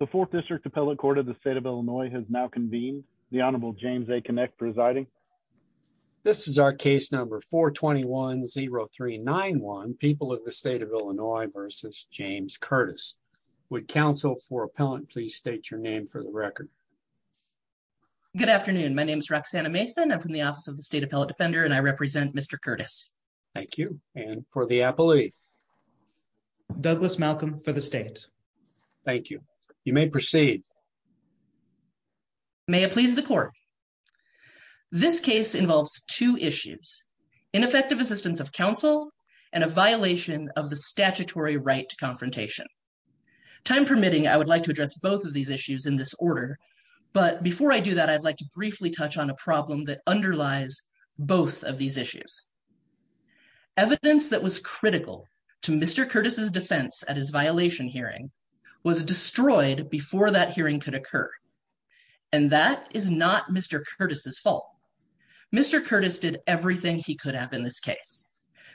The 4th District Appellate Court of the State of Illinois has now convened. The Honorable James A. Kinect presiding. This is our case number 421-0391, People of the State of Illinois v. James Curtis. Would counsel for appellant please state your name for the record. Good afternoon. My name is Roxanna Mason. I'm from the Office of the State Appellate Defender and I represent Mr. Curtis. Thank you. And for the appellee. Douglas Malcolm for the state. Thank you. You may proceed. May it please the court. This case involves two issues, ineffective assistance of counsel and a violation of the statutory right to confrontation. Time permitting, I would like to address both of these issues in this order. But before I do that, I'd like to briefly touch on a problem that underlies both of these issues. Evidence that was critical to Mr. Curtis's defense at his violation hearing was destroyed before that hearing could occur. And that is not Mr. Curtis's fault. Mr. Curtis did everything he could have in this case.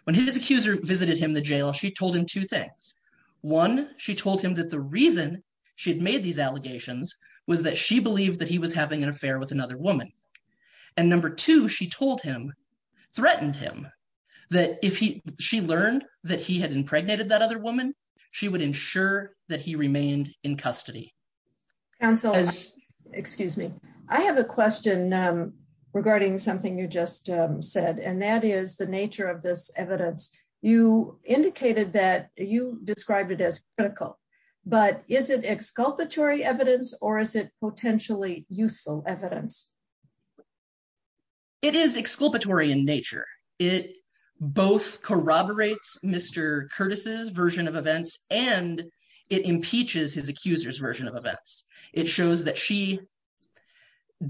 When his accuser visited him in the jail, she told him two things. One, she told him that the reason she had made these allegations was that she believed that he was having an affair with another woman. And number two, she told him, threatened him, that if she learned that he had impregnated that other woman, she would ensure that he remained in custody. Counsel, excuse me, I have a question regarding something you just said, and that is the nature of this evidence. You indicated that you described it as critical, but is it exculpatory evidence or is it potentially useful evidence. It is exculpatory in nature. It both corroborates Mr. Curtis's version of events and it impeaches his accuser's version of events. It shows that she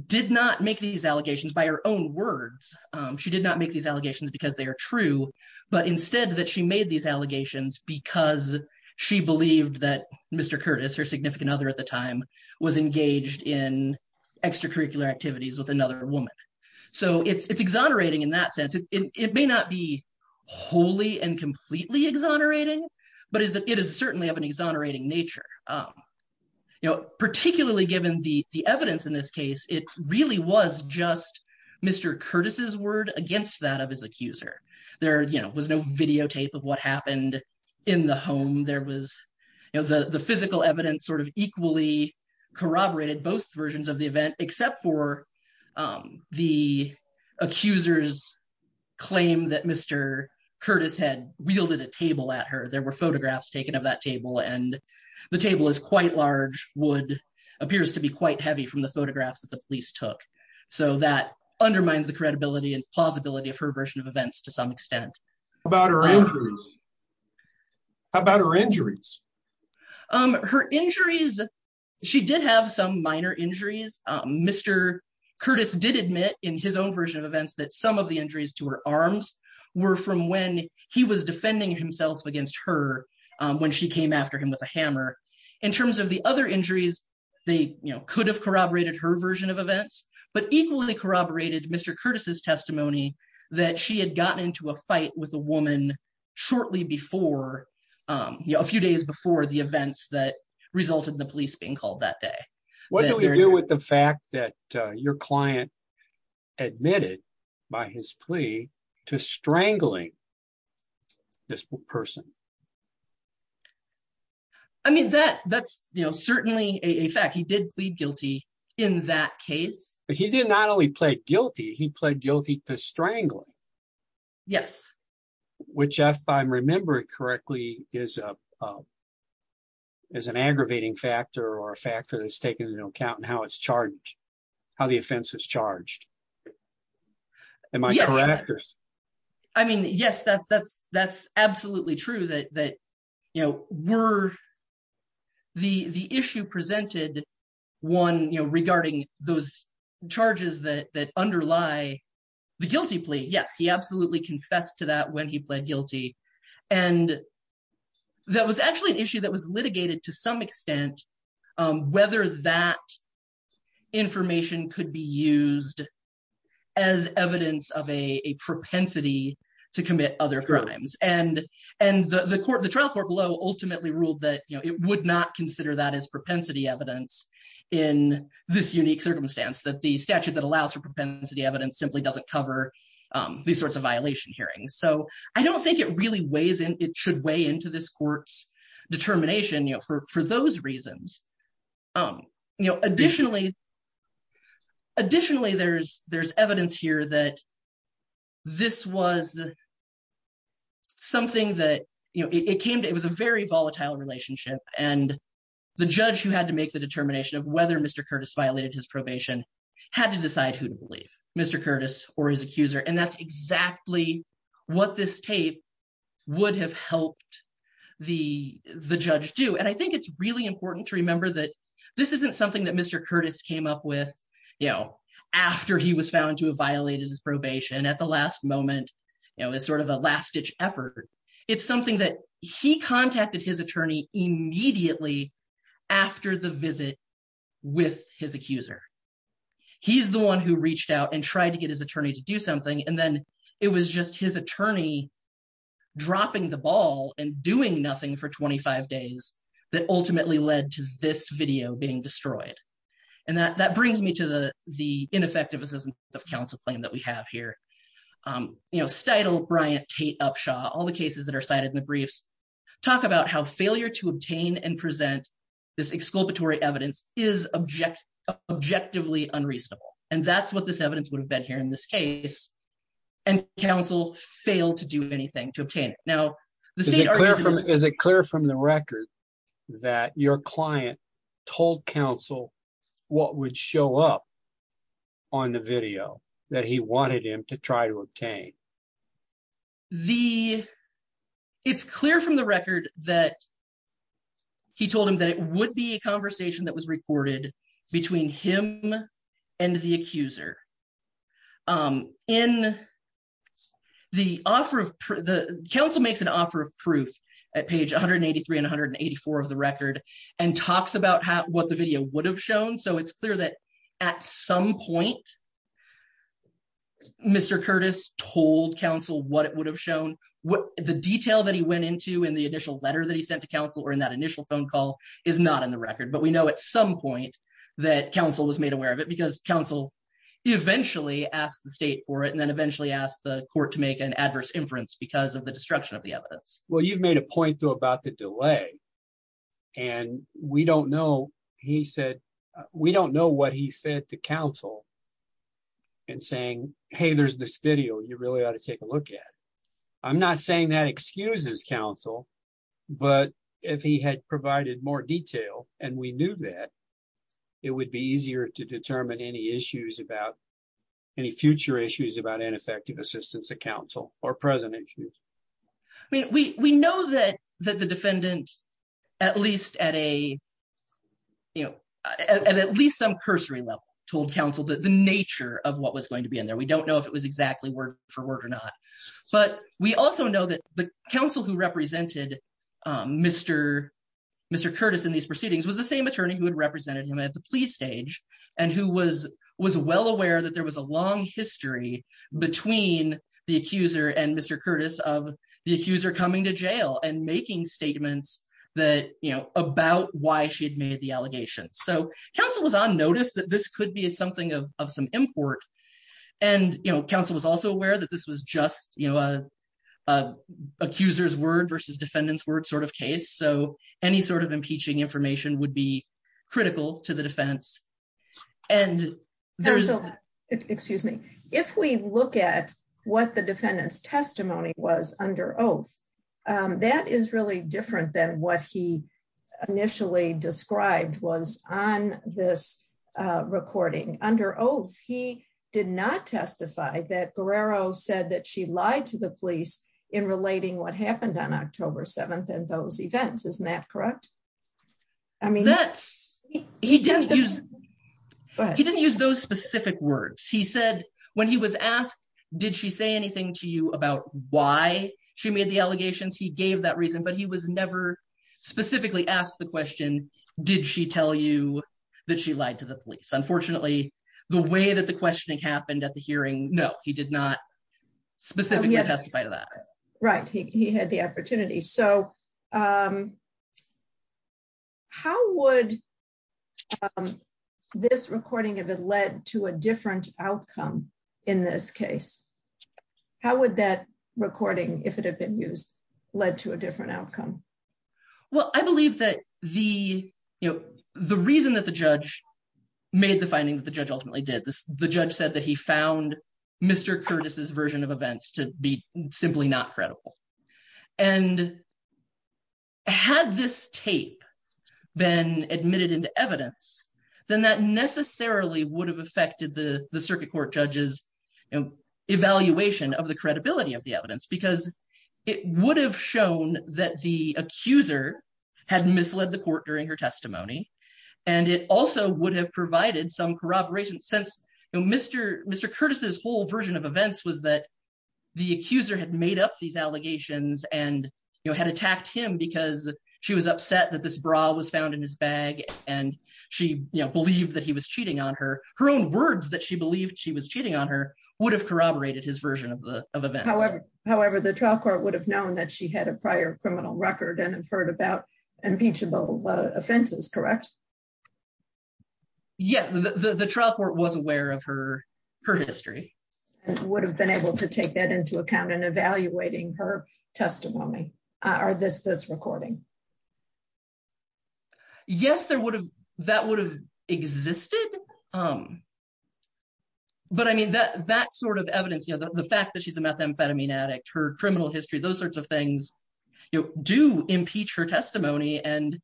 did not make these allegations by her own words. She did not make these allegations because they are true, but instead that she made these allegations because she believed that Mr. Curtis, her significant other at the time, was engaged in extracurricular activities with another woman. So it's exonerating in that sense. It may not be wholly and completely exonerating, but it is certainly of an exonerating nature. Particularly given the evidence in this case, it really was just Mr. Curtis's word against that of his accuser. There was no videotape of what happened in the home. The physical evidence sort of equally corroborated both versions of the event, except for the accuser's claim that Mr. Curtis had wielded a table at her. There were photographs taken of that table and the table is quite large, wood, appears to be quite heavy from the photographs that the police took. So that undermines the credibility and plausibility of her version of events to some extent. How about her injuries? Her injuries, she did have some minor injuries. Mr. Curtis did admit in his own version of events that some of the injuries to her arms were from when he was defending himself against her when she came after him with a hammer. In terms of the other injuries, they could have corroborated her version of events, but equally corroborated Mr. Curtis's testimony that she had gotten into a fight with a woman shortly before, a few days before the events that resulted in the police being called that day. What do we do with the fact that your client admitted by his plea to strangling this person? I mean, that's certainly a fact. He did plead guilty in that case. He did not only plead guilty, he pled guilty to strangling. Yes. Which, if I remember correctly, is an aggravating factor or a factor that's taken into account in how it's charged, how the offense is charged. Am I correct? I mean, yes, that's absolutely true. The issue presented regarding those charges that underlie the guilty plea, yes, he absolutely confessed to that when he pled guilty. And that was actually an issue that was litigated to some extent, whether that information could be used as evidence of a propensity to commit other crimes. And the trial court below ultimately ruled that it would not consider that as propensity evidence in this unique circumstance, that the statute that allows for propensity evidence simply doesn't cover these sorts of violation hearings. So I don't think it really weighs in, it should weigh into this court's determination for those reasons. Additionally, there's evidence here that this was something that, it was a very volatile relationship, and the judge who had to make the determination of whether Mr. Curtis violated his probation had to decide who to believe, Mr. Curtis or his accuser. And that's exactly what this tape would have helped the judge do. And I think it's really important to remember that this isn't something that Mr. Curtis came up with, you know, after he was found to have violated his probation at the last moment, you know, as sort of a last-ditch effort. It's something that he contacted his attorney immediately after the visit with his accuser. He's the one who reached out and tried to get his attorney to do something, and then it was just his attorney dropping the ball and doing nothing for 25 days that ultimately led to this video being destroyed. And that brings me to the ineffective assistance of counsel claim that we have here. You know, Steitel, Bryant, Tate, Upshaw, all the cases that are cited in the briefs talk about how failure to obtain and present this exculpatory evidence is objectively unreasonable. And that's what this evidence would have been here in this case, and counsel failed to do anything to obtain it. Is it clear from the record that your client told counsel what would show up on the video that he wanted him to try to obtain? It's clear from the record that he told him that it would be a conversation that was recorded between him and the accuser. Counsel makes an offer of proof at page 183 and 184 of the record and talks about what the video would have shown. So it's clear that at some point Mr. Curtis told counsel what it would have shown. The detail that he went into in the initial letter that he sent to counsel or in that initial phone call is not in the record. But we know at some point that counsel was made aware of it because counsel eventually asked the state for it and then eventually asked the court to make an adverse inference because of the destruction of the evidence. Well, you've made a point about the delay. And we don't know, he said, we don't know what he said to counsel and saying, hey, there's this video you really ought to take a look at. I'm not saying that excuses counsel. But if he had provided more detail, and we knew that it would be easier to determine any issues about any future issues about ineffective assistance to counsel or present issues. We know that that the defendant, at least at a, you know, at least some cursory level, told counsel that the nature of what was going to be in there we don't know if it was exactly word for word or not. But we also know that the council who represented Mr. Mr Curtis in these proceedings was the same attorney who had represented him at the police stage, and who was was well aware that there was a long history between the accuser and Mr Curtis of the accuser's word versus defendants word sort of case so any sort of impeaching information would be critical to the defense. And there's, excuse me, if we look at what the defendants testimony was under oath. That is really different than what he initially described was on this recording under oath he did not testify that Guerrero said that she lied to the police in relating what happened on October 7 and those events isn't that correct. I mean that's, he does. But he didn't use those specific words he said when he was asked, did she say anything to you about why she made the allegations he gave that reason but he was never specifically asked the question, did she tell you that she lied to the police unfortunately, the way that the questioning happened at the hearing, no, he did not specifically testify to that right he had the opportunity so how would this recording of it led to a different outcome. In this case, how would that recording, if it had been used, led to a different outcome. Well, I believe that the, you know, the reason that the judge made the finding that the judge ultimately did this, the judge said that he found Mr Curtis's version of events to be simply not credible. And had this tape been admitted into evidence, then that necessarily would have affected the circuit court judges evaluation of the credibility of the evidence because it would have shown that the accuser had misled the court during her testimony. And it also would have provided some corroboration since Mr. Mr Curtis's whole version of events was that the accuser had made up these allegations and, you know, had attacked him because she was upset that this bra was found in his bag, and she believed that he was Yeah, the trial court was aware of her, her history would have been able to take that into account and evaluating her testimony, or this this recording. Yes, there would have that would have existed. Um, but I mean that that sort of evidence you know the fact that she's a methamphetamine addict her criminal history those sorts of things. You know, do impeach her testimony and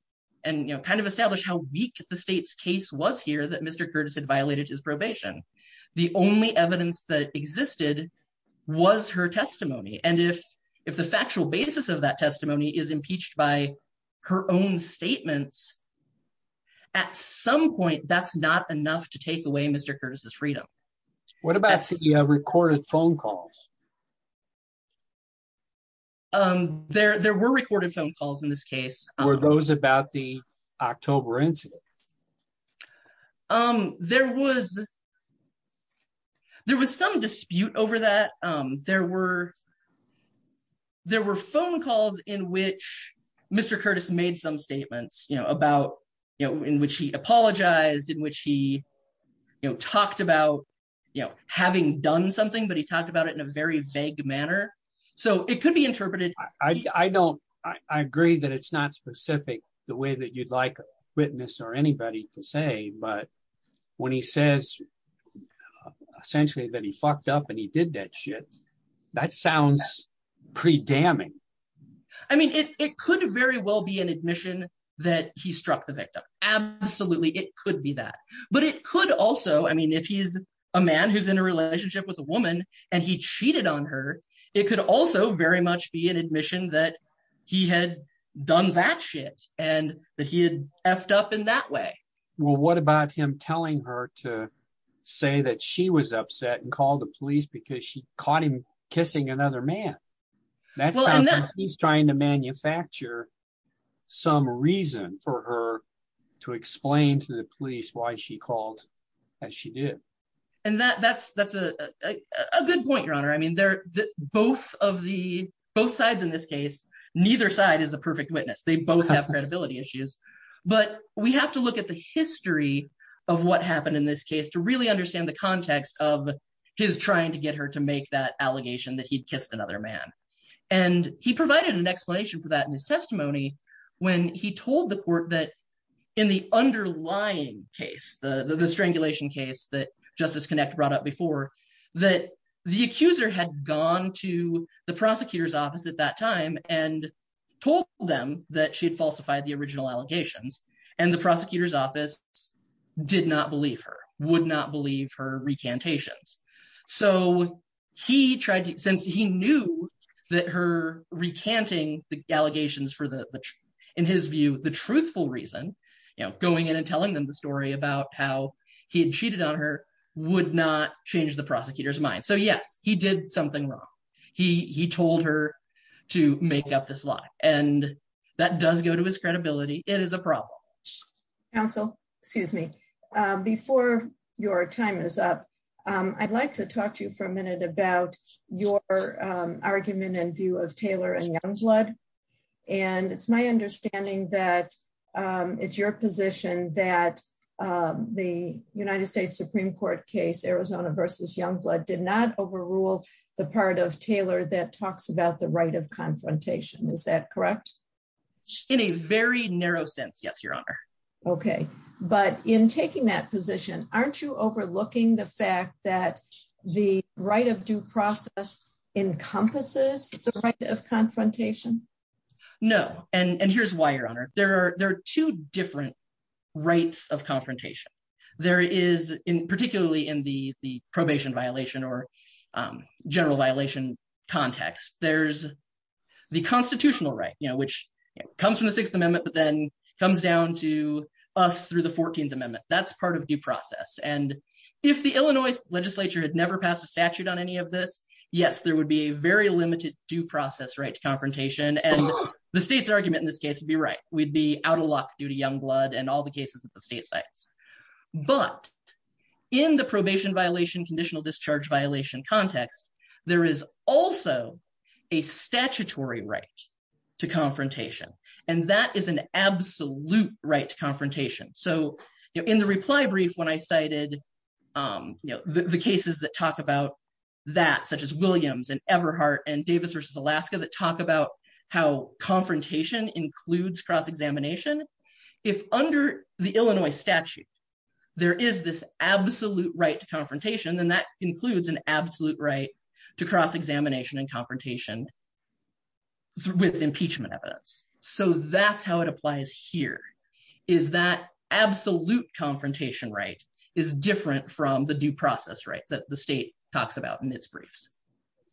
and you know kind of establish how weak the state's case was here that Mr Curtis had violated his probation. The only evidence that existed was her testimony and if if the factual basis of that testimony is impeached by her own statements. At some point, that's not enough to take away Mr Curtis's freedom. What about you have recorded phone calls. There, there were recorded phone calls in this case, or those about the October incident. Um, there was. There was some dispute over that there were there were phone calls in which Mr Curtis made some statements you know about, you know, in which he apologized in which he talked about, you know, having done something but he talked about it in a very vague manner. So it could be interpreted, I don't, I agree that it's not specific, the way that you'd like witness or anybody to say but when he says, essentially that he fucked up and he did that shit. That sounds pretty damning. I mean, it could very well be an admission that he struck the victim. Absolutely, it could be that, but it could also I mean if he's a man who's in a relationship with a woman, and he cheated on her. It could also very much be an admission that he had done that shit, and that he had effed up in that way. Well, what about him telling her to say that she was upset and called the police because she caught him kissing another man that he's trying to manufacture some reason for her to explain to the police why she called, as she did. And that that's that's a good point your honor I mean they're both of the both sides in this case, neither side is a perfect witness they both have credibility issues. But we have to look at the history of what happened in this case to really understand the context of his trying to get her to make that allegation that he kissed another man. And he provided an explanation for that in his testimony. When he told the court that in the underlying case the strangulation case that justice connect brought up before that the accuser had gone to the prosecutor's office at that time, and told them that she had falsified the original allegations, and the prosecutor's office did not believe her would not believe her recantations. So, he tried to sense he knew that her recanting the allegations for the, in his view, the truthful reason, you know, going in and telling them the story about how he cheated on her would not change the prosecutor's mind so yes he did something wrong. He told her to make up this lie, and that does go to his credibility, it is a problem. Council, excuse me, before your time is up. I'd like to talk to you for a minute about your argument and view of Taylor and young blood. And it's my understanding that it's your position that the United States Supreme Court case Arizona versus young blood did not overrule the part of Taylor that talks about the right of confrontation is that correct. In a very narrow sense yes your honor. Okay, but in taking that position, aren't you overlooking the fact that the right of due process encompasses the right of confrontation. No, and here's why your honor, there are there are two different rights of confrontation. There is in particularly in the the probation violation or general violation context, there's the constitutional right you know which comes from the Sixth Amendment but then comes down to us through the 14th Amendment, that's part of the process and if the Illinois legislature had never passed a statute on any of this. Yes, there would be a very limited due process right to confrontation and the state's argument in this case would be right, we'd be out of luck due to young blood and all the cases that the state sites. But in the probation violation conditional discharge violation context, there is also a statutory right to confrontation, and that is an absolute right to confrontation so in the reply brief when I cited the cases that talk about that such as Williams and Everhart and Davis versus Alaska that talk about how confrontation includes cross examination. If under the Illinois statute. There is this absolute right to confrontation and that includes an absolute right to cross examination and confrontation with impeachment evidence. So that's how it applies here. Is that absolute confrontation right is different from the due process right that the state talks about in its briefs.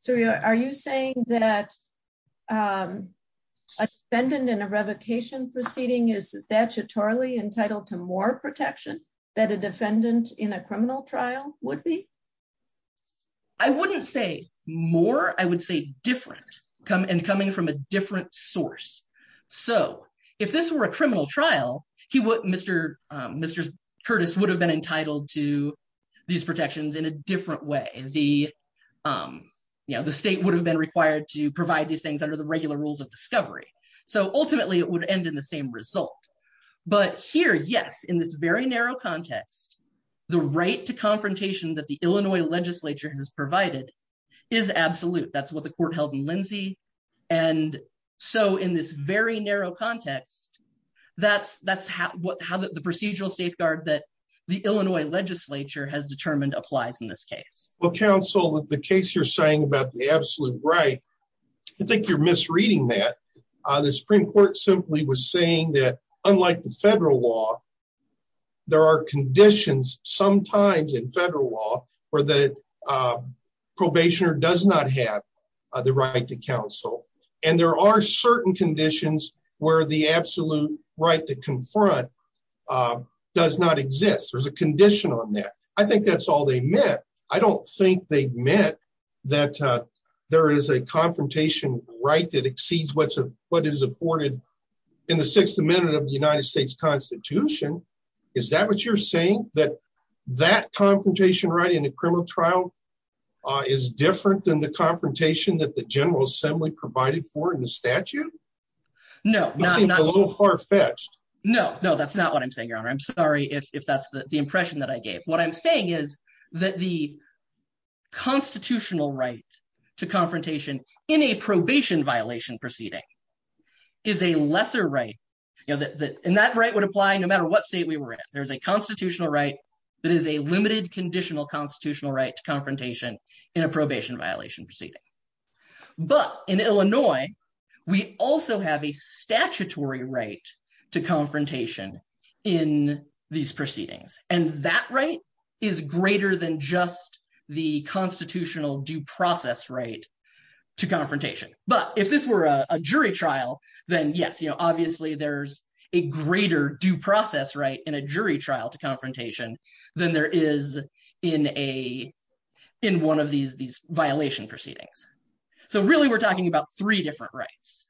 So are you saying that a defendant in a revocation proceeding is statutorily entitled to more protection that a defendant in a criminal trial would be. I wouldn't say more I would say different come and coming from a different source. So, if this were a criminal trial, he would Mr. Mr. Curtis would have been entitled to these protections in a different way, the, you know, the state would have been required to provide these things under the regular rules of discovery. So ultimately it would end in the same result. But here yes in this very narrow context, the right to confrontation that the Illinois legislature has provided is absolute that's what the court held And so in this very narrow context. That's, that's what how the procedural safeguard that the Illinois legislature has determined applies in this case will counsel with the case you're saying about the absolute right. I think you're misreading that the Supreme Court simply was saying that, unlike the federal law. There are conditions, sometimes in federal law for the probation or does not have the right to counsel, and there are certain conditions where the absolute right to confront does not exist. There's a condition on that. I think that's all they met. I don't think they met that there is a confrontation right that exceeds what's what is afforded in the sixth amendment of the United States Constitution. Is that what you're saying that that confrontation right in a criminal trial is different than the confrontation that the General Assembly provided for in the statute. No, no, no. No, no, that's not what I'm saying, Your Honor. I'm sorry if that's the impression that I gave what I'm saying is that the constitutional right to confrontation in a probation violation proceeding is a lesser right. You know that in that right would apply no matter what state we were in. There's a constitutional right that is a limited conditional constitutional right to confrontation in a probation violation proceeding. But in Illinois. We also have a statutory right to confrontation in these proceedings, and that right is greater than just the constitutional due process right to confrontation, but if this were a jury trial, then yes you know obviously there's a greater due process right in a jury trial to confrontation than there is in a, in one of these these violation proceedings. So really we're talking about three different rights.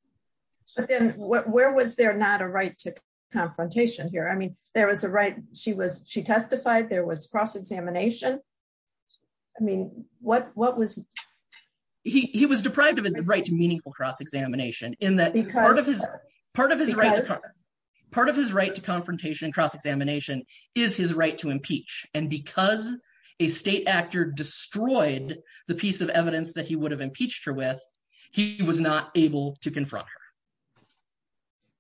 But then, where was there not a right to confrontation here I mean there was a right, she was she testified there was cross examination. I mean, what, what was he was deprived of his right to meaningful cross examination in that part of his part of his right. Part of his right to confrontation cross examination is his right to impeach, and because a state actor destroyed the piece of evidence that he would have impeached her with. He was not able to confront her.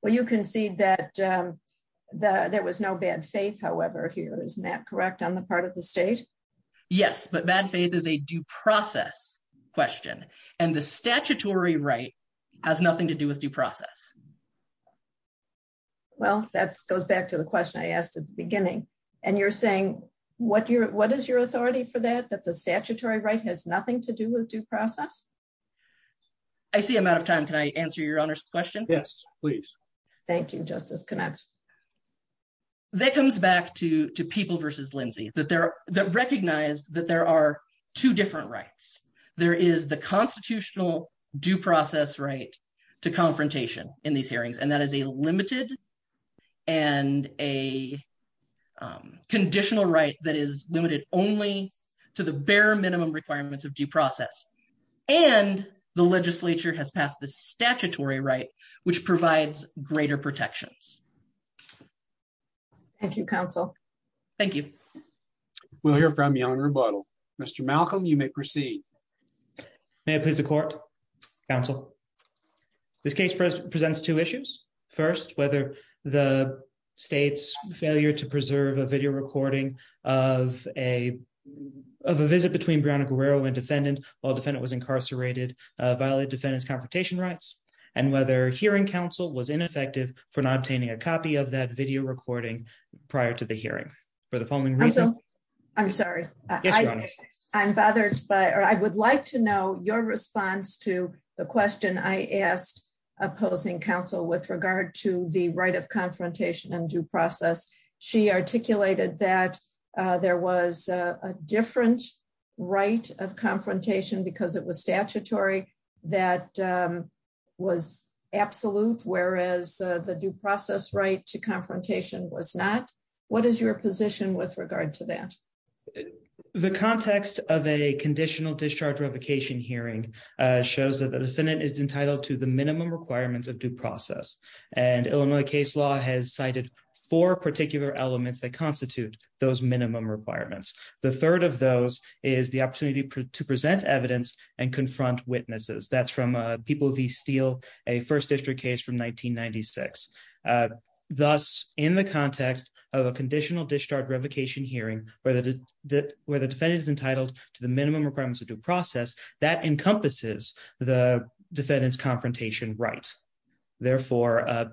Well, you can see that there was no bad faith however here isn't that correct on the part of the state. Yes, but bad faith is a due process question, and the statutory right has nothing to do with due process. Well, that's goes back to the question I asked at the beginning, and you're saying, what your, what is your authority for that that the statutory right has nothing to do with due process. I see I'm out of time can I answer your question. Yes, please. Thank you justice connect that comes back to to people versus Lindsay that there are recognized that there are two different rights, there is the constitutional due process right to and the legislature has passed the statutory right, which provides greater protections. Thank you counsel. Thank you. We'll hear from you on rebuttal. Mr Malcolm you may proceed. May I please the court counsel. This case presents two issues. First, whether the state's failure to preserve a video recording of a of a visit between Brianna Guerrero and defendant or defendant was incarcerated violate defendants confrontation rights, and whether hearing counsel was ineffective for not obtaining a copy of that video recording. Prior to the hearing for the following reason. I'm sorry, I'm bothered by or I would like to know your response to the question I asked opposing counsel with regard to the right of confrontation and due process. She articulated that there was a different right of confrontation because it was statutory that was absolute whereas the due process right to confrontation was not. What is your position with regard to that. The context of a conditional discharge revocation hearing shows that the defendant is entitled to the minimum requirements of due process, and Illinois case law has cited for particular elements that constitute those minimum requirements. The third of those is the opportunity to present evidence and confront witnesses that's from people the steel, a first district case from 1996. Thus, in the context of a conditional discharge revocation hearing, whether that whether defendants entitled to the minimum requirements of due process that encompasses the defendants confrontation right. Therefore,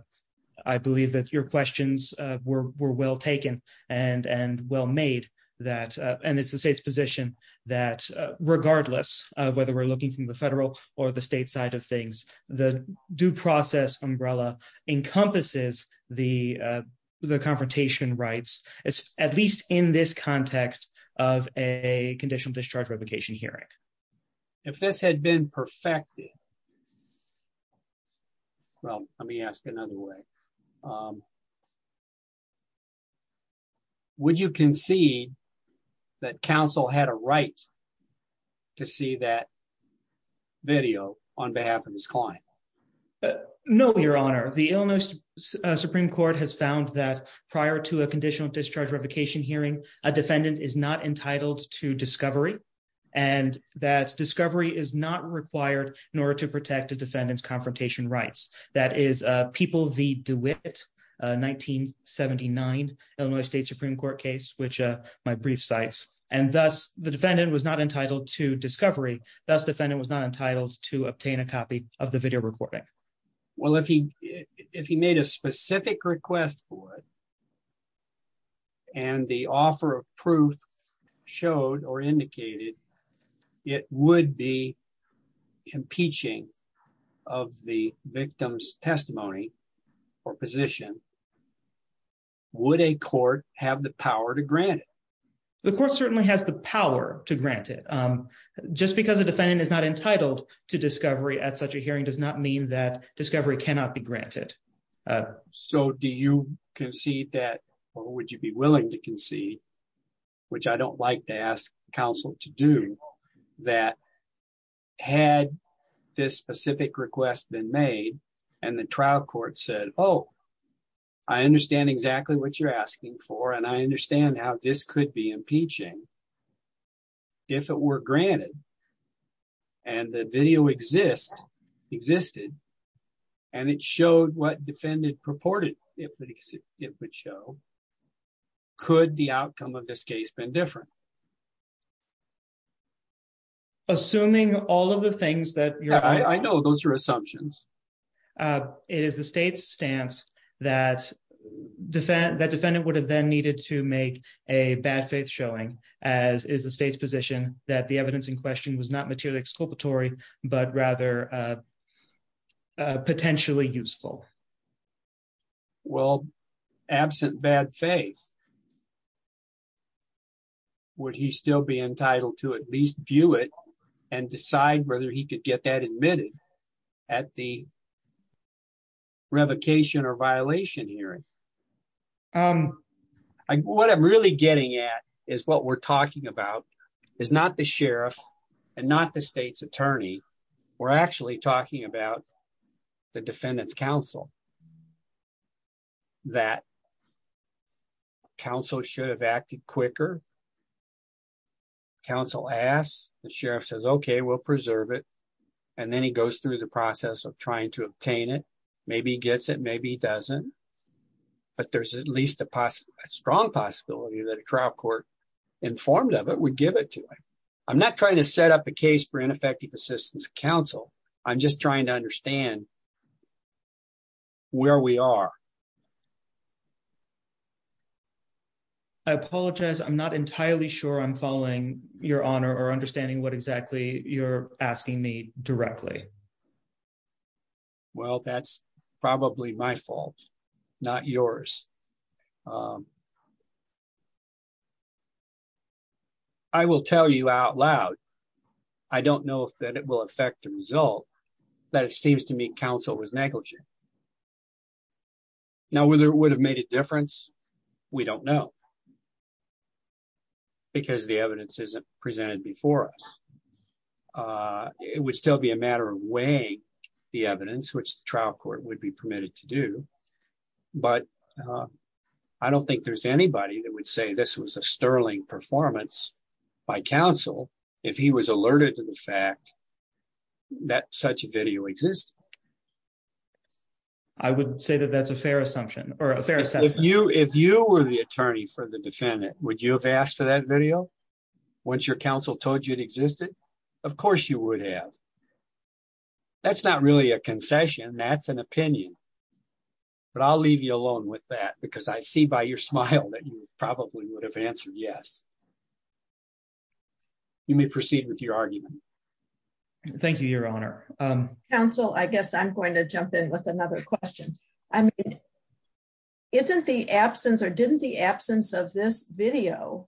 I believe that your questions were well taken and and well made that, and it's the state's position that regardless of whether we're looking from the federal or the state side of things, the due process umbrella encompasses the, the confrontation rights, as at least in this context of a conditional discharge revocation hearing. If this had been perfected. Well, let me ask another way. Would you concede that counsel had a right to see that video on behalf of his client. No, Your Honor, the illness Supreme Court has found that prior to a conditional discharge revocation hearing a defendant is not entitled to discovery, and that discovery is not required in order to protect the defendants confrontation rights, that is, people do it. 1979, Illinois State Supreme Court case which my brief sites, and thus, the defendant was not entitled to discovery, thus defendant was not entitled to obtain a copy of the video recording. Well if he, if he made a specific request for it. And the offer of proof showed or indicated. It would be competing of the victim's testimony or position. Would a court have the power to grant. The court certainly has the power to grant it. Just because the defendant is not entitled to discovery at such a hearing does not mean that discovery cannot be granted. So do you concede that, or would you be willing to concede, which I don't like to ask counsel to do that. Had this specific request been made, and the trial court said, Oh, I understand exactly what you're asking for and I understand how this could be impeaching. If it were granted. And the video exists existed. And it showed what defended purported, it would show. Could the outcome of this case been different. Assuming all of the things that I know those are assumptions. It is the state's stance that defend that defendant would have then needed to make a bad faith showing, as is the state's position that the evidence in question was not material exculpatory, but rather potentially useful. Well, absent bad faith. Would he still be entitled to at least view it and decide whether he could get that admitted at the revocation or violation hearing. And what I'm really getting at is what we're talking about is not the sheriff, and not the state's attorney. We're actually talking about the defendants council that council should have acted quicker. Council as the sheriff says okay we'll preserve it. And then he goes through the process of trying to obtain it. Maybe gets it maybe doesn't. But there's at least a strong possibility that a trial court informed of it would give it to him. I'm not trying to set up a case for ineffective assistance council. I'm just trying to understand where we are. I apologize I'm not entirely sure I'm following your honor or understanding what exactly you're asking me directly. Well, that's probably my fault, not yours. I will tell you out loud. I don't know if that it will affect the result that it seems to me Council was negligent. Now whether it would have made a difference. We don't know. Because the evidence isn't presented before us. It would still be a matter of way. The evidence which trial court would be permitted to do. But I don't think there's anybody that would say this was a sterling performance by Council. If he was alerted to the fact that such a video exists. I would say that that's a fair assumption, or if you if you were the attorney for the defendant, would you have asked for that video. Once your counsel told you it existed. Of course you would have. That's not really a concession that's an opinion. But I'll leave you alone with that because I see by your smile that you probably would have answered yes. You may proceed with your argument. Thank you, Your Honor. Council I guess I'm going to jump in with another question. I mean, isn't the absence or didn't the absence of this video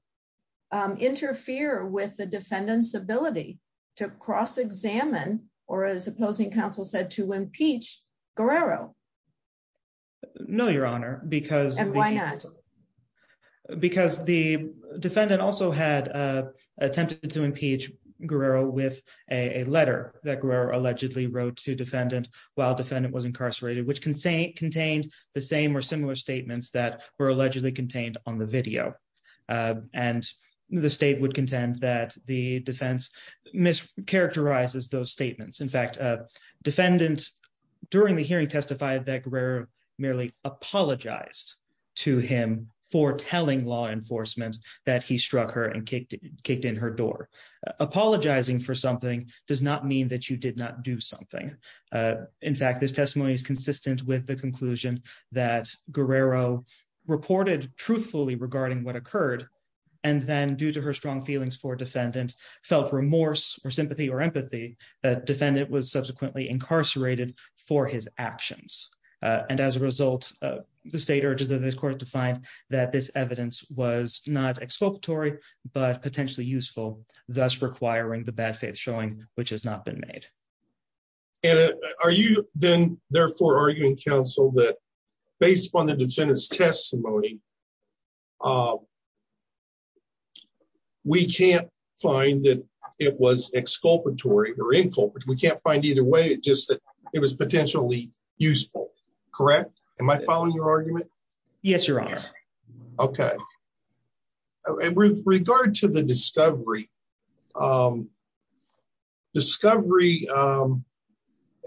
interfere with the defendants ability to cross examine, or as opposing counsel said to impeach Guerrero. No, Your Honor, because why not. Because the defendant also had attempted to impeach Guerrero with a letter that Guerrero allegedly wrote to defendant, while defendant was incarcerated which can say contained the same or similar statements that were allegedly contained on the video. And the state would contend that the defense mischaracterizes those statements in fact defendant. During the hearing testified that were merely apologized to him for telling law enforcement that he struck her and kicked kicked in her door apologizing for something does not mean that you did not do something. In fact, this testimony is consistent with the conclusion that Guerrero reported truthfully regarding what occurred. And then due to her strong feelings for defendant felt remorse or sympathy or empathy defendant was subsequently incarcerated for his actions. And as a result, the state urges the court to find that this evidence was not exculpatory, but potentially useful, thus requiring the bad faith showing, which has not been made. And are you, then, therefore arguing counsel that based on the defendant's testimony. We can't find that it was exculpatory or inculpate we can't find either way, just that it was potentially useful. Correct. Am I following your argument. Okay. With regard to the discovery. Discovery.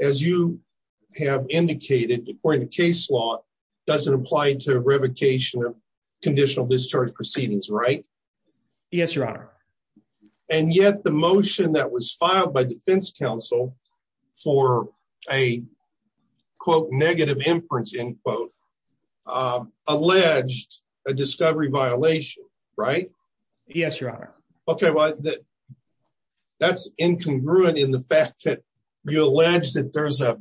As you have indicated, according to case law doesn't apply to revocation of conditional discharge proceedings right. Yes, Your Honor. And yet the motion that was filed by defense counsel for a quote negative inference in quote alleged a discovery violation. Right. Yes, Your Honor. Okay, well, that's incongruent in the fact that you allege that there's a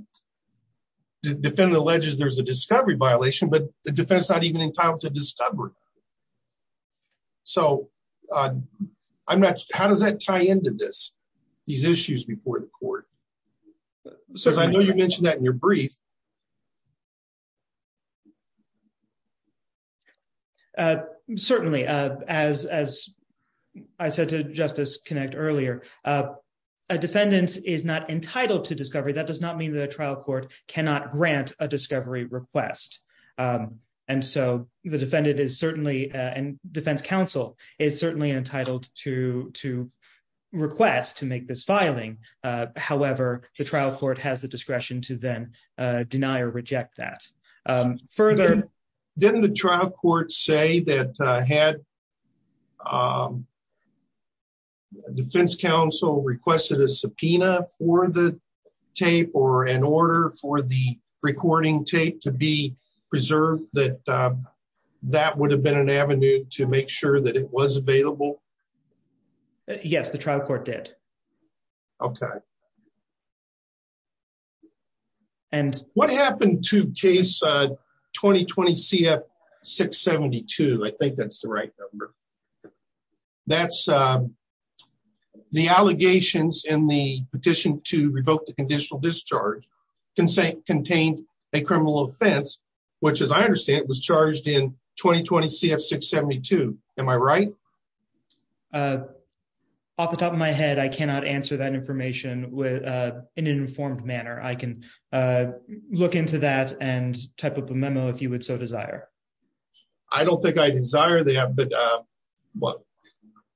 defendant alleges there's a discovery violation but the defense not even entitled to discover. So, I'm not. How does that tie into this, these issues before the court. So I know you mentioned that in your brief. Certainly, as, as I said to justice connect earlier, a defendant is not entitled to discovery that does not mean that a trial court cannot grant a discovery request. And so the defendant is certainly and defense counsel is certainly entitled to to request to make this filing. However, the trial court has the discretion to then deny or reject that further. Didn't the trial court say that had defense counsel requested a subpoena for the tape or an order for the recording tape to be preserved that that would have been an avenue to make sure that it was available. Yes, the trial court did. Okay. And what happened to case 2020 CF 672 I think that's the right number. That's the allegations in the petition to revoke the conditional discharge can say contained a criminal offense, which as I understand it was charged in 2020 CF 672. Am I right. Off the top of my head I cannot answer that information with an informed manner I can look into that and type up a memo if you would so desire. I don't think I desire that but what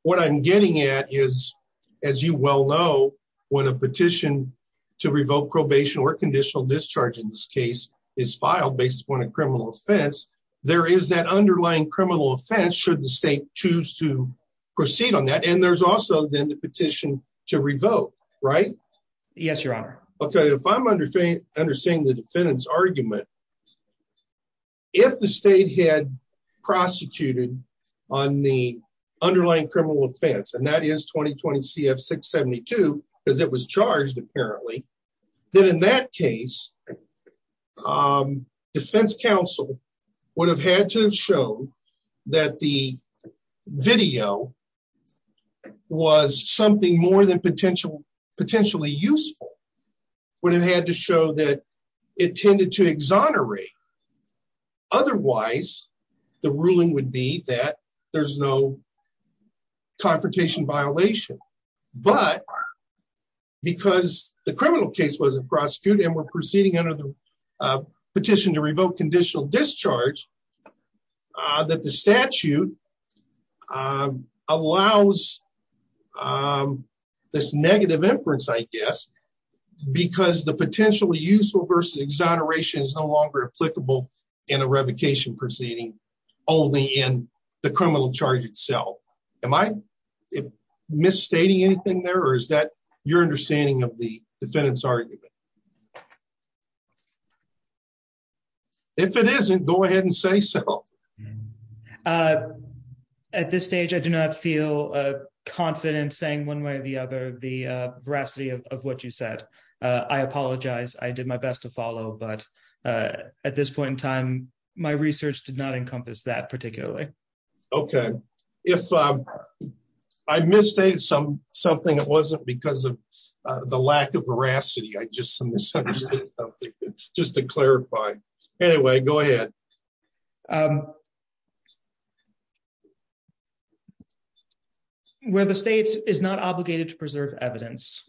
what I'm getting at is, as you well know, when a petition to revoke probation or conditional discharge in this case is filed based upon a criminal offense. There is that underlying criminal offense should the state choose to proceed on that and there's also then the petition to revoke. Right. Yes, Your Honor. Okay, if I'm under faith, understanding the defendants argument. If the state had prosecuted on the underlying criminal offense and that is 2020 CF 672, because it was charged apparently. Then in that case, defense counsel would have had to show that the video was something more than potential potentially useful would have had to show that it tended to exonerate. Otherwise, the ruling would be that there's no confrontation violation, but because the criminal case wasn't prosecuted and we're proceeding under the petition to revoke conditional discharge. That the statute allows this negative inference, I guess, because the potentially useful versus exoneration is no longer applicable in a revocation proceeding, only in the criminal charge itself. Am I misstating anything there is that your understanding of the defendants argument. If it isn't, go ahead and say so. At this stage, I do not feel confident saying one way or the other, the veracity of what you said, I apologize, I did my best to follow but at this point in time, my research did not encompass that particularly. Okay, if I misstated some something that wasn't because of the lack of veracity I just just to clarify. Anyway, go ahead. Where the states is not obligated to preserve evidence,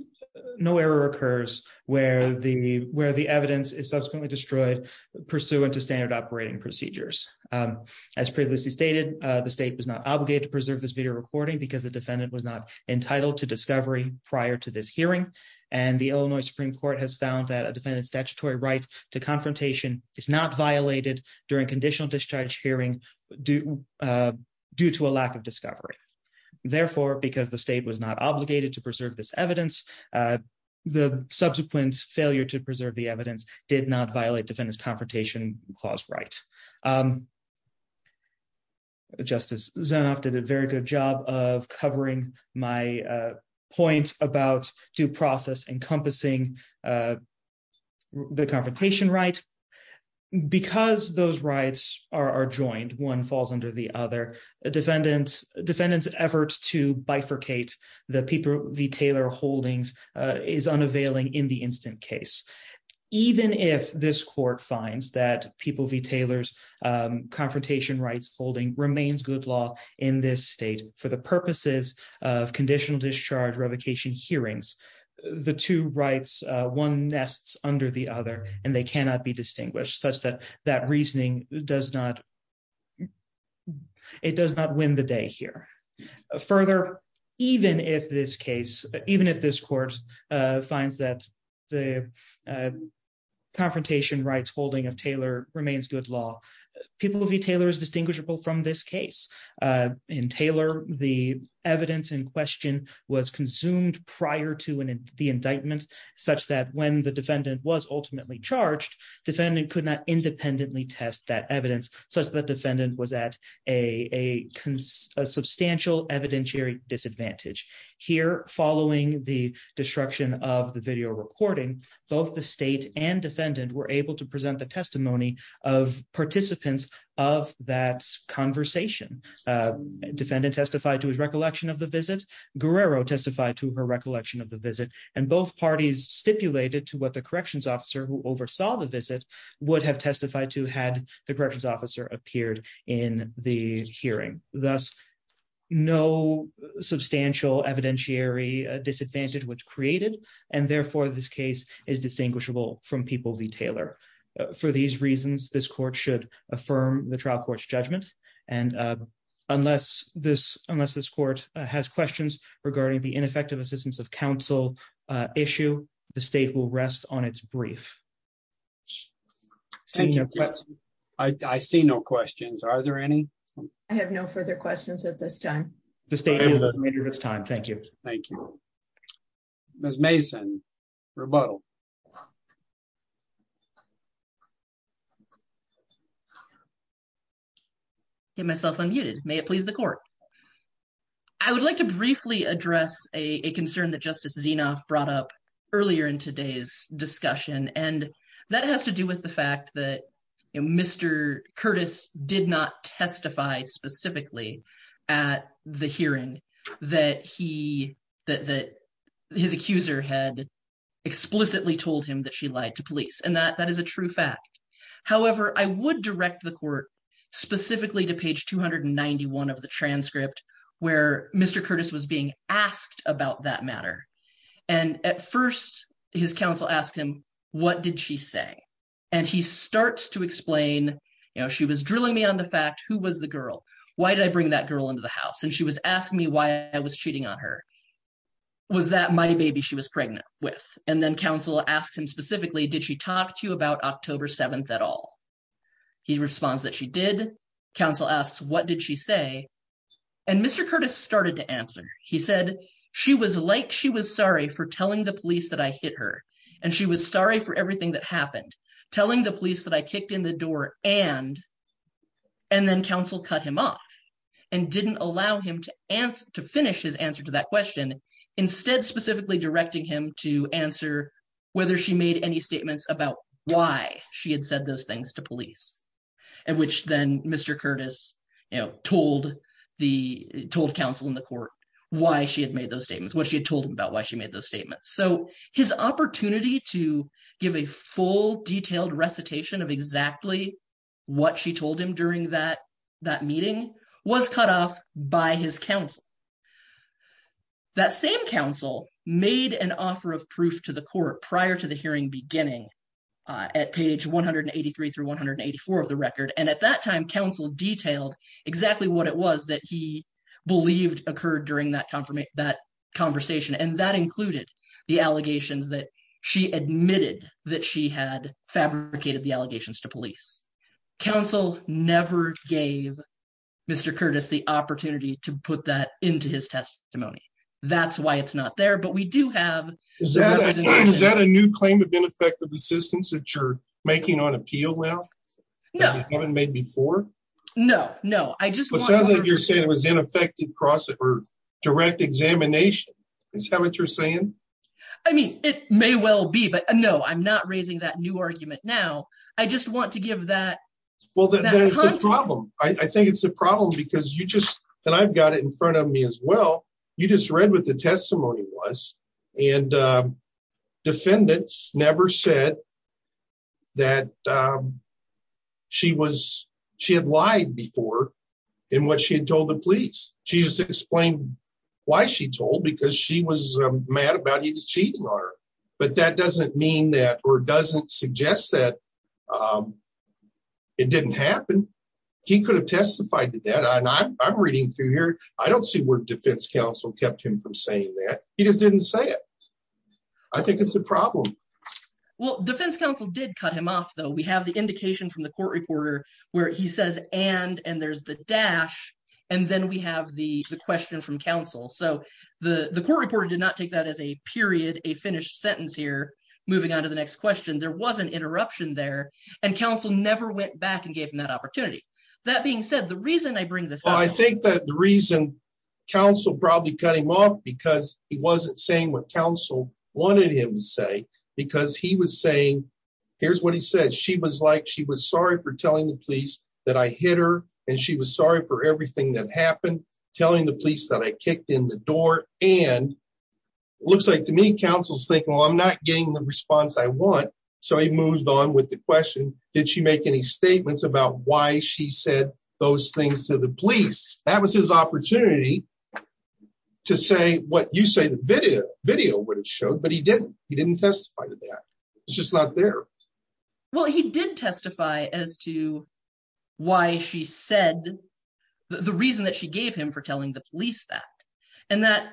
no error occurs, where the where the evidence is subsequently destroyed pursuant to standard operating procedures. As previously stated, the state was not obligated to preserve this video recording because the defendant was not entitled to discovery prior to this hearing. And the Illinois Supreme Court has found that a defendant statutory right to confrontation is not violated during conditional discharge hearing due due to a lack of discovery. Therefore, because the state was not obligated to preserve this evidence, the subsequent failure to preserve the evidence did not violate defendants confrontation clause right. Justice Zenoff did a very good job of covering my point about due process encompassing the confrontation right because those rights are joined one falls under the other defendants defendants efforts to bifurcate the people retailer holdings is unavailing in the instant case. Even if this court finds that people retailers confrontation rights holding remains good law in this state for the purposes of conditional discharge revocation hearings. The two rights, one nests under the other, and they cannot be distinguished such that that reasoning does not. Further, even if this case, even if this court finds that the confrontation rights holding of Taylor remains good law. People will be Taylor is distinguishable from this case in Taylor, the evidence in question was consumed prior to the indictment, such that when the defendant was ultimately charged defendant could not independently test that evidence, such that defendant was at a substantial evidentiary disadvantage here following the destruction of the video recording, both the state and defendant were able to present the testimony of participants of that conversation defendant testified to his recollection of the visit Guerrero testified to her recollection of the visit, and both parties stipulated to what the corrections officer who oversaw the visit would have testified to had the corrections officer appeared in the hearing, thus, no substantial evidentiary disadvantage was created, and therefore this case is distinguishable from people retailer. For these reasons, this court should affirm the trial courts judgment. And unless this unless this court has questions regarding the ineffective assistance of counsel issue, the state will rest on its brief. I see no questions are there any. I have no further questions at this time, the state of this time. Thank you. Thank you. Miss Mason rebuttal. And that has to do with the fact that Mr. Curtis did not testify specifically at the hearing that he that that his accuser had explicitly told him that she lied to police and that that is a true fact. However, I would direct the court, specifically to page 291 of the transcript, where Mr. Curtis was being asked about that matter. And at first, his counsel asked him, what did she say, and he starts to explain, you know, she was drilling me on the fact who was the girl. Why did I bring that girl into the house and she was asking me why I was cheating on her. Was that my baby she was pregnant with and then counsel asked him specifically did she talked to you about October 7 at all. He responds that she did counsel asks what did she say. And Mr. Curtis started to answer, he said she was like she was sorry for telling the police that I hit her, and she was sorry for everything that happened, telling the police that I kicked in the door, and, and then counsel cut him off and didn't allow him to answer to finish his answer to that question. Instead, specifically directing him to answer whether she made any statements about why she had said those things to police. And which then Mr. Curtis, you know, told the told counsel in the court, why she had made those statements what she had told him about why she made those statements so his opportunity to give a full detailed recitation of exactly what she told him during that that meeting was cut off by his counsel. That same counsel made an offer of proof to the court prior to the hearing beginning at page 183 through 184 of the record and at that time counsel detailed exactly what it was that he believed occurred during that confirmation that conversation and that included the allegations that she admitted that she had fabricated the allegations to police counsel never gave Mr. Curtis the opportunity to put that into his testimony. That's why it's not there but we do have. Is that a new claim of ineffective assistance that you're making on appeal now. No, I haven't made before. No, no, I just wasn't you're saying it was ineffective process or direct examination is how much you're saying, I mean, it may well be but no I'm not raising that new argument now. I just want to give that. Well, the problem, I think it's a problem because you just, and I've got it in front of me as well. You just read with the testimony was and defendants never said that she was, she had lied before. And what she had told the police, she used to explain why she told because she was mad about he was cheating on her, but that doesn't mean that or doesn't suggest that it didn't happen. He could have testified to that and I'm reading through here. I don't see where defense counsel kept him from saying that he just didn't say it. I think it's a problem. Well defense counsel did cut him off though we have the indication from the court reporter, where he says, and and there's the dash. And then we have the question from counsel so the the court reporter did not take that as a period, a finished sentence here, moving on to the next question there was an interruption there, and counsel never went back and gave him that opportunity. That being said, the reason I bring this I think that the reason counsel probably cut him off because he wasn't saying what counsel wanted him to say, because he was saying, here's what he said she was like she was sorry for telling the police that I hit her, and she was sorry for everything that happened, telling the police that I kicked in the door, and looks like to me counsel's thinking well I'm not getting the response I want. So he moves on with the question, did she make any statements about why she said those things to the police, that was his opportunity to say what you say the video video would have showed but he didn't, he didn't testify to that. It's just not there. Well, he did testify as to why she said the reason that she gave him for telling the police that, and that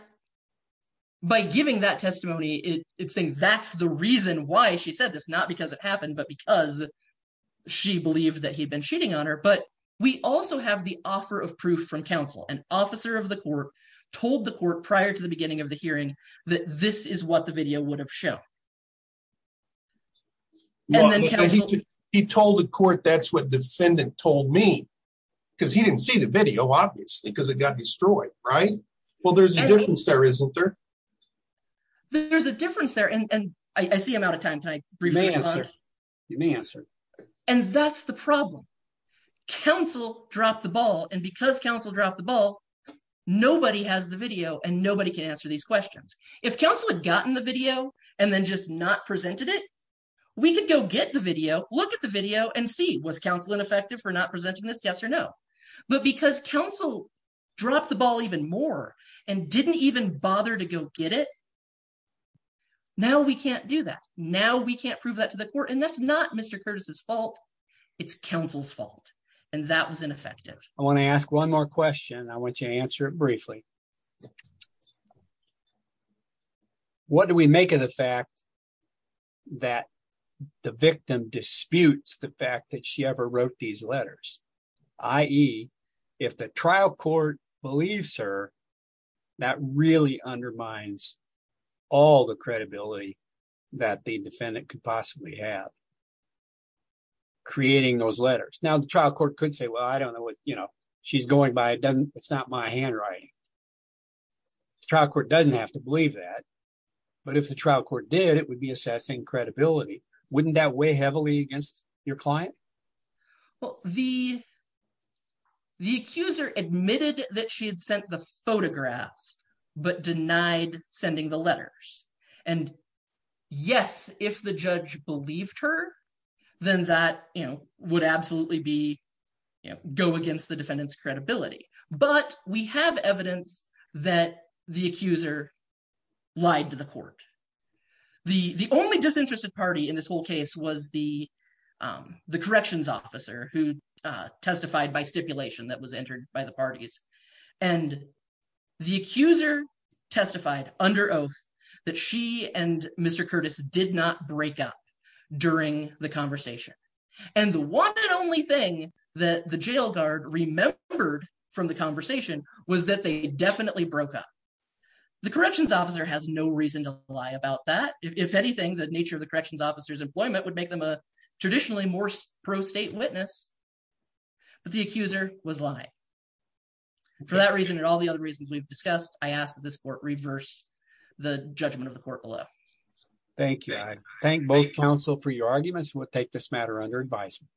by giving that testimony, it's saying that's the reason why she said this not because it happened but because she believed that he'd been shooting on her but we also have the he told the court that's what defendant told me, because he didn't see the video obviously because it got destroyed. Right. Well, there's a difference there isn't there. There's a difference there and I see him out of time. You may answer. And that's the problem. Council, drop the ball and because Council drop the ball. Nobody has the video and nobody can answer these questions. If Council had gotten the video, and then just not presented it. We could go get the video, look at the video and see was counseling effective for not presenting this yes or no. But because Council, drop the ball even more, and didn't even bother to go get it. Now we can't do that. Now we can't prove that to the court and that's not Mr Curtis's fault. It's Council's fault. And that was ineffective. I want to ask one more question I want you to answer it briefly. What do we make of the fact that the victim disputes the fact that she ever wrote these letters, i.e. if the trial court believes her that really undermines all the credibility that the defendant could possibly have creating those letters now the trial court could say well I don't know what, you know, she's going by it doesn't, it's not my handwriting. The trial court doesn't have to believe that. But if the trial court did it would be assessing credibility, wouldn't that weigh heavily against your client. Well, the, the accuser admitted that she had sent the photographs, but denied sending the letters. And yes, if the judge believed her, then that, you know, would absolutely be go against the defendant's credibility, but we have evidence that the accuser lied to the court. The, the only disinterested party in this whole case was the, the corrections officer who testified by stipulation that was entered by the parties and the accuser testified under oath that she and Mr Curtis did not break up during the conversation. And the one and only thing that the jail guard remembered from the conversation was that they definitely broke up. The corrections officer has no reason to lie about that, if anything, the nature of the corrections officers employment would make them a traditionally more pro state witness. But the accuser was lie. For that reason and all the other reasons we've discussed, I asked this court reverse the judgment of the court below. Thank you. Thank both counsel for your arguments and we'll take this matter under advisement.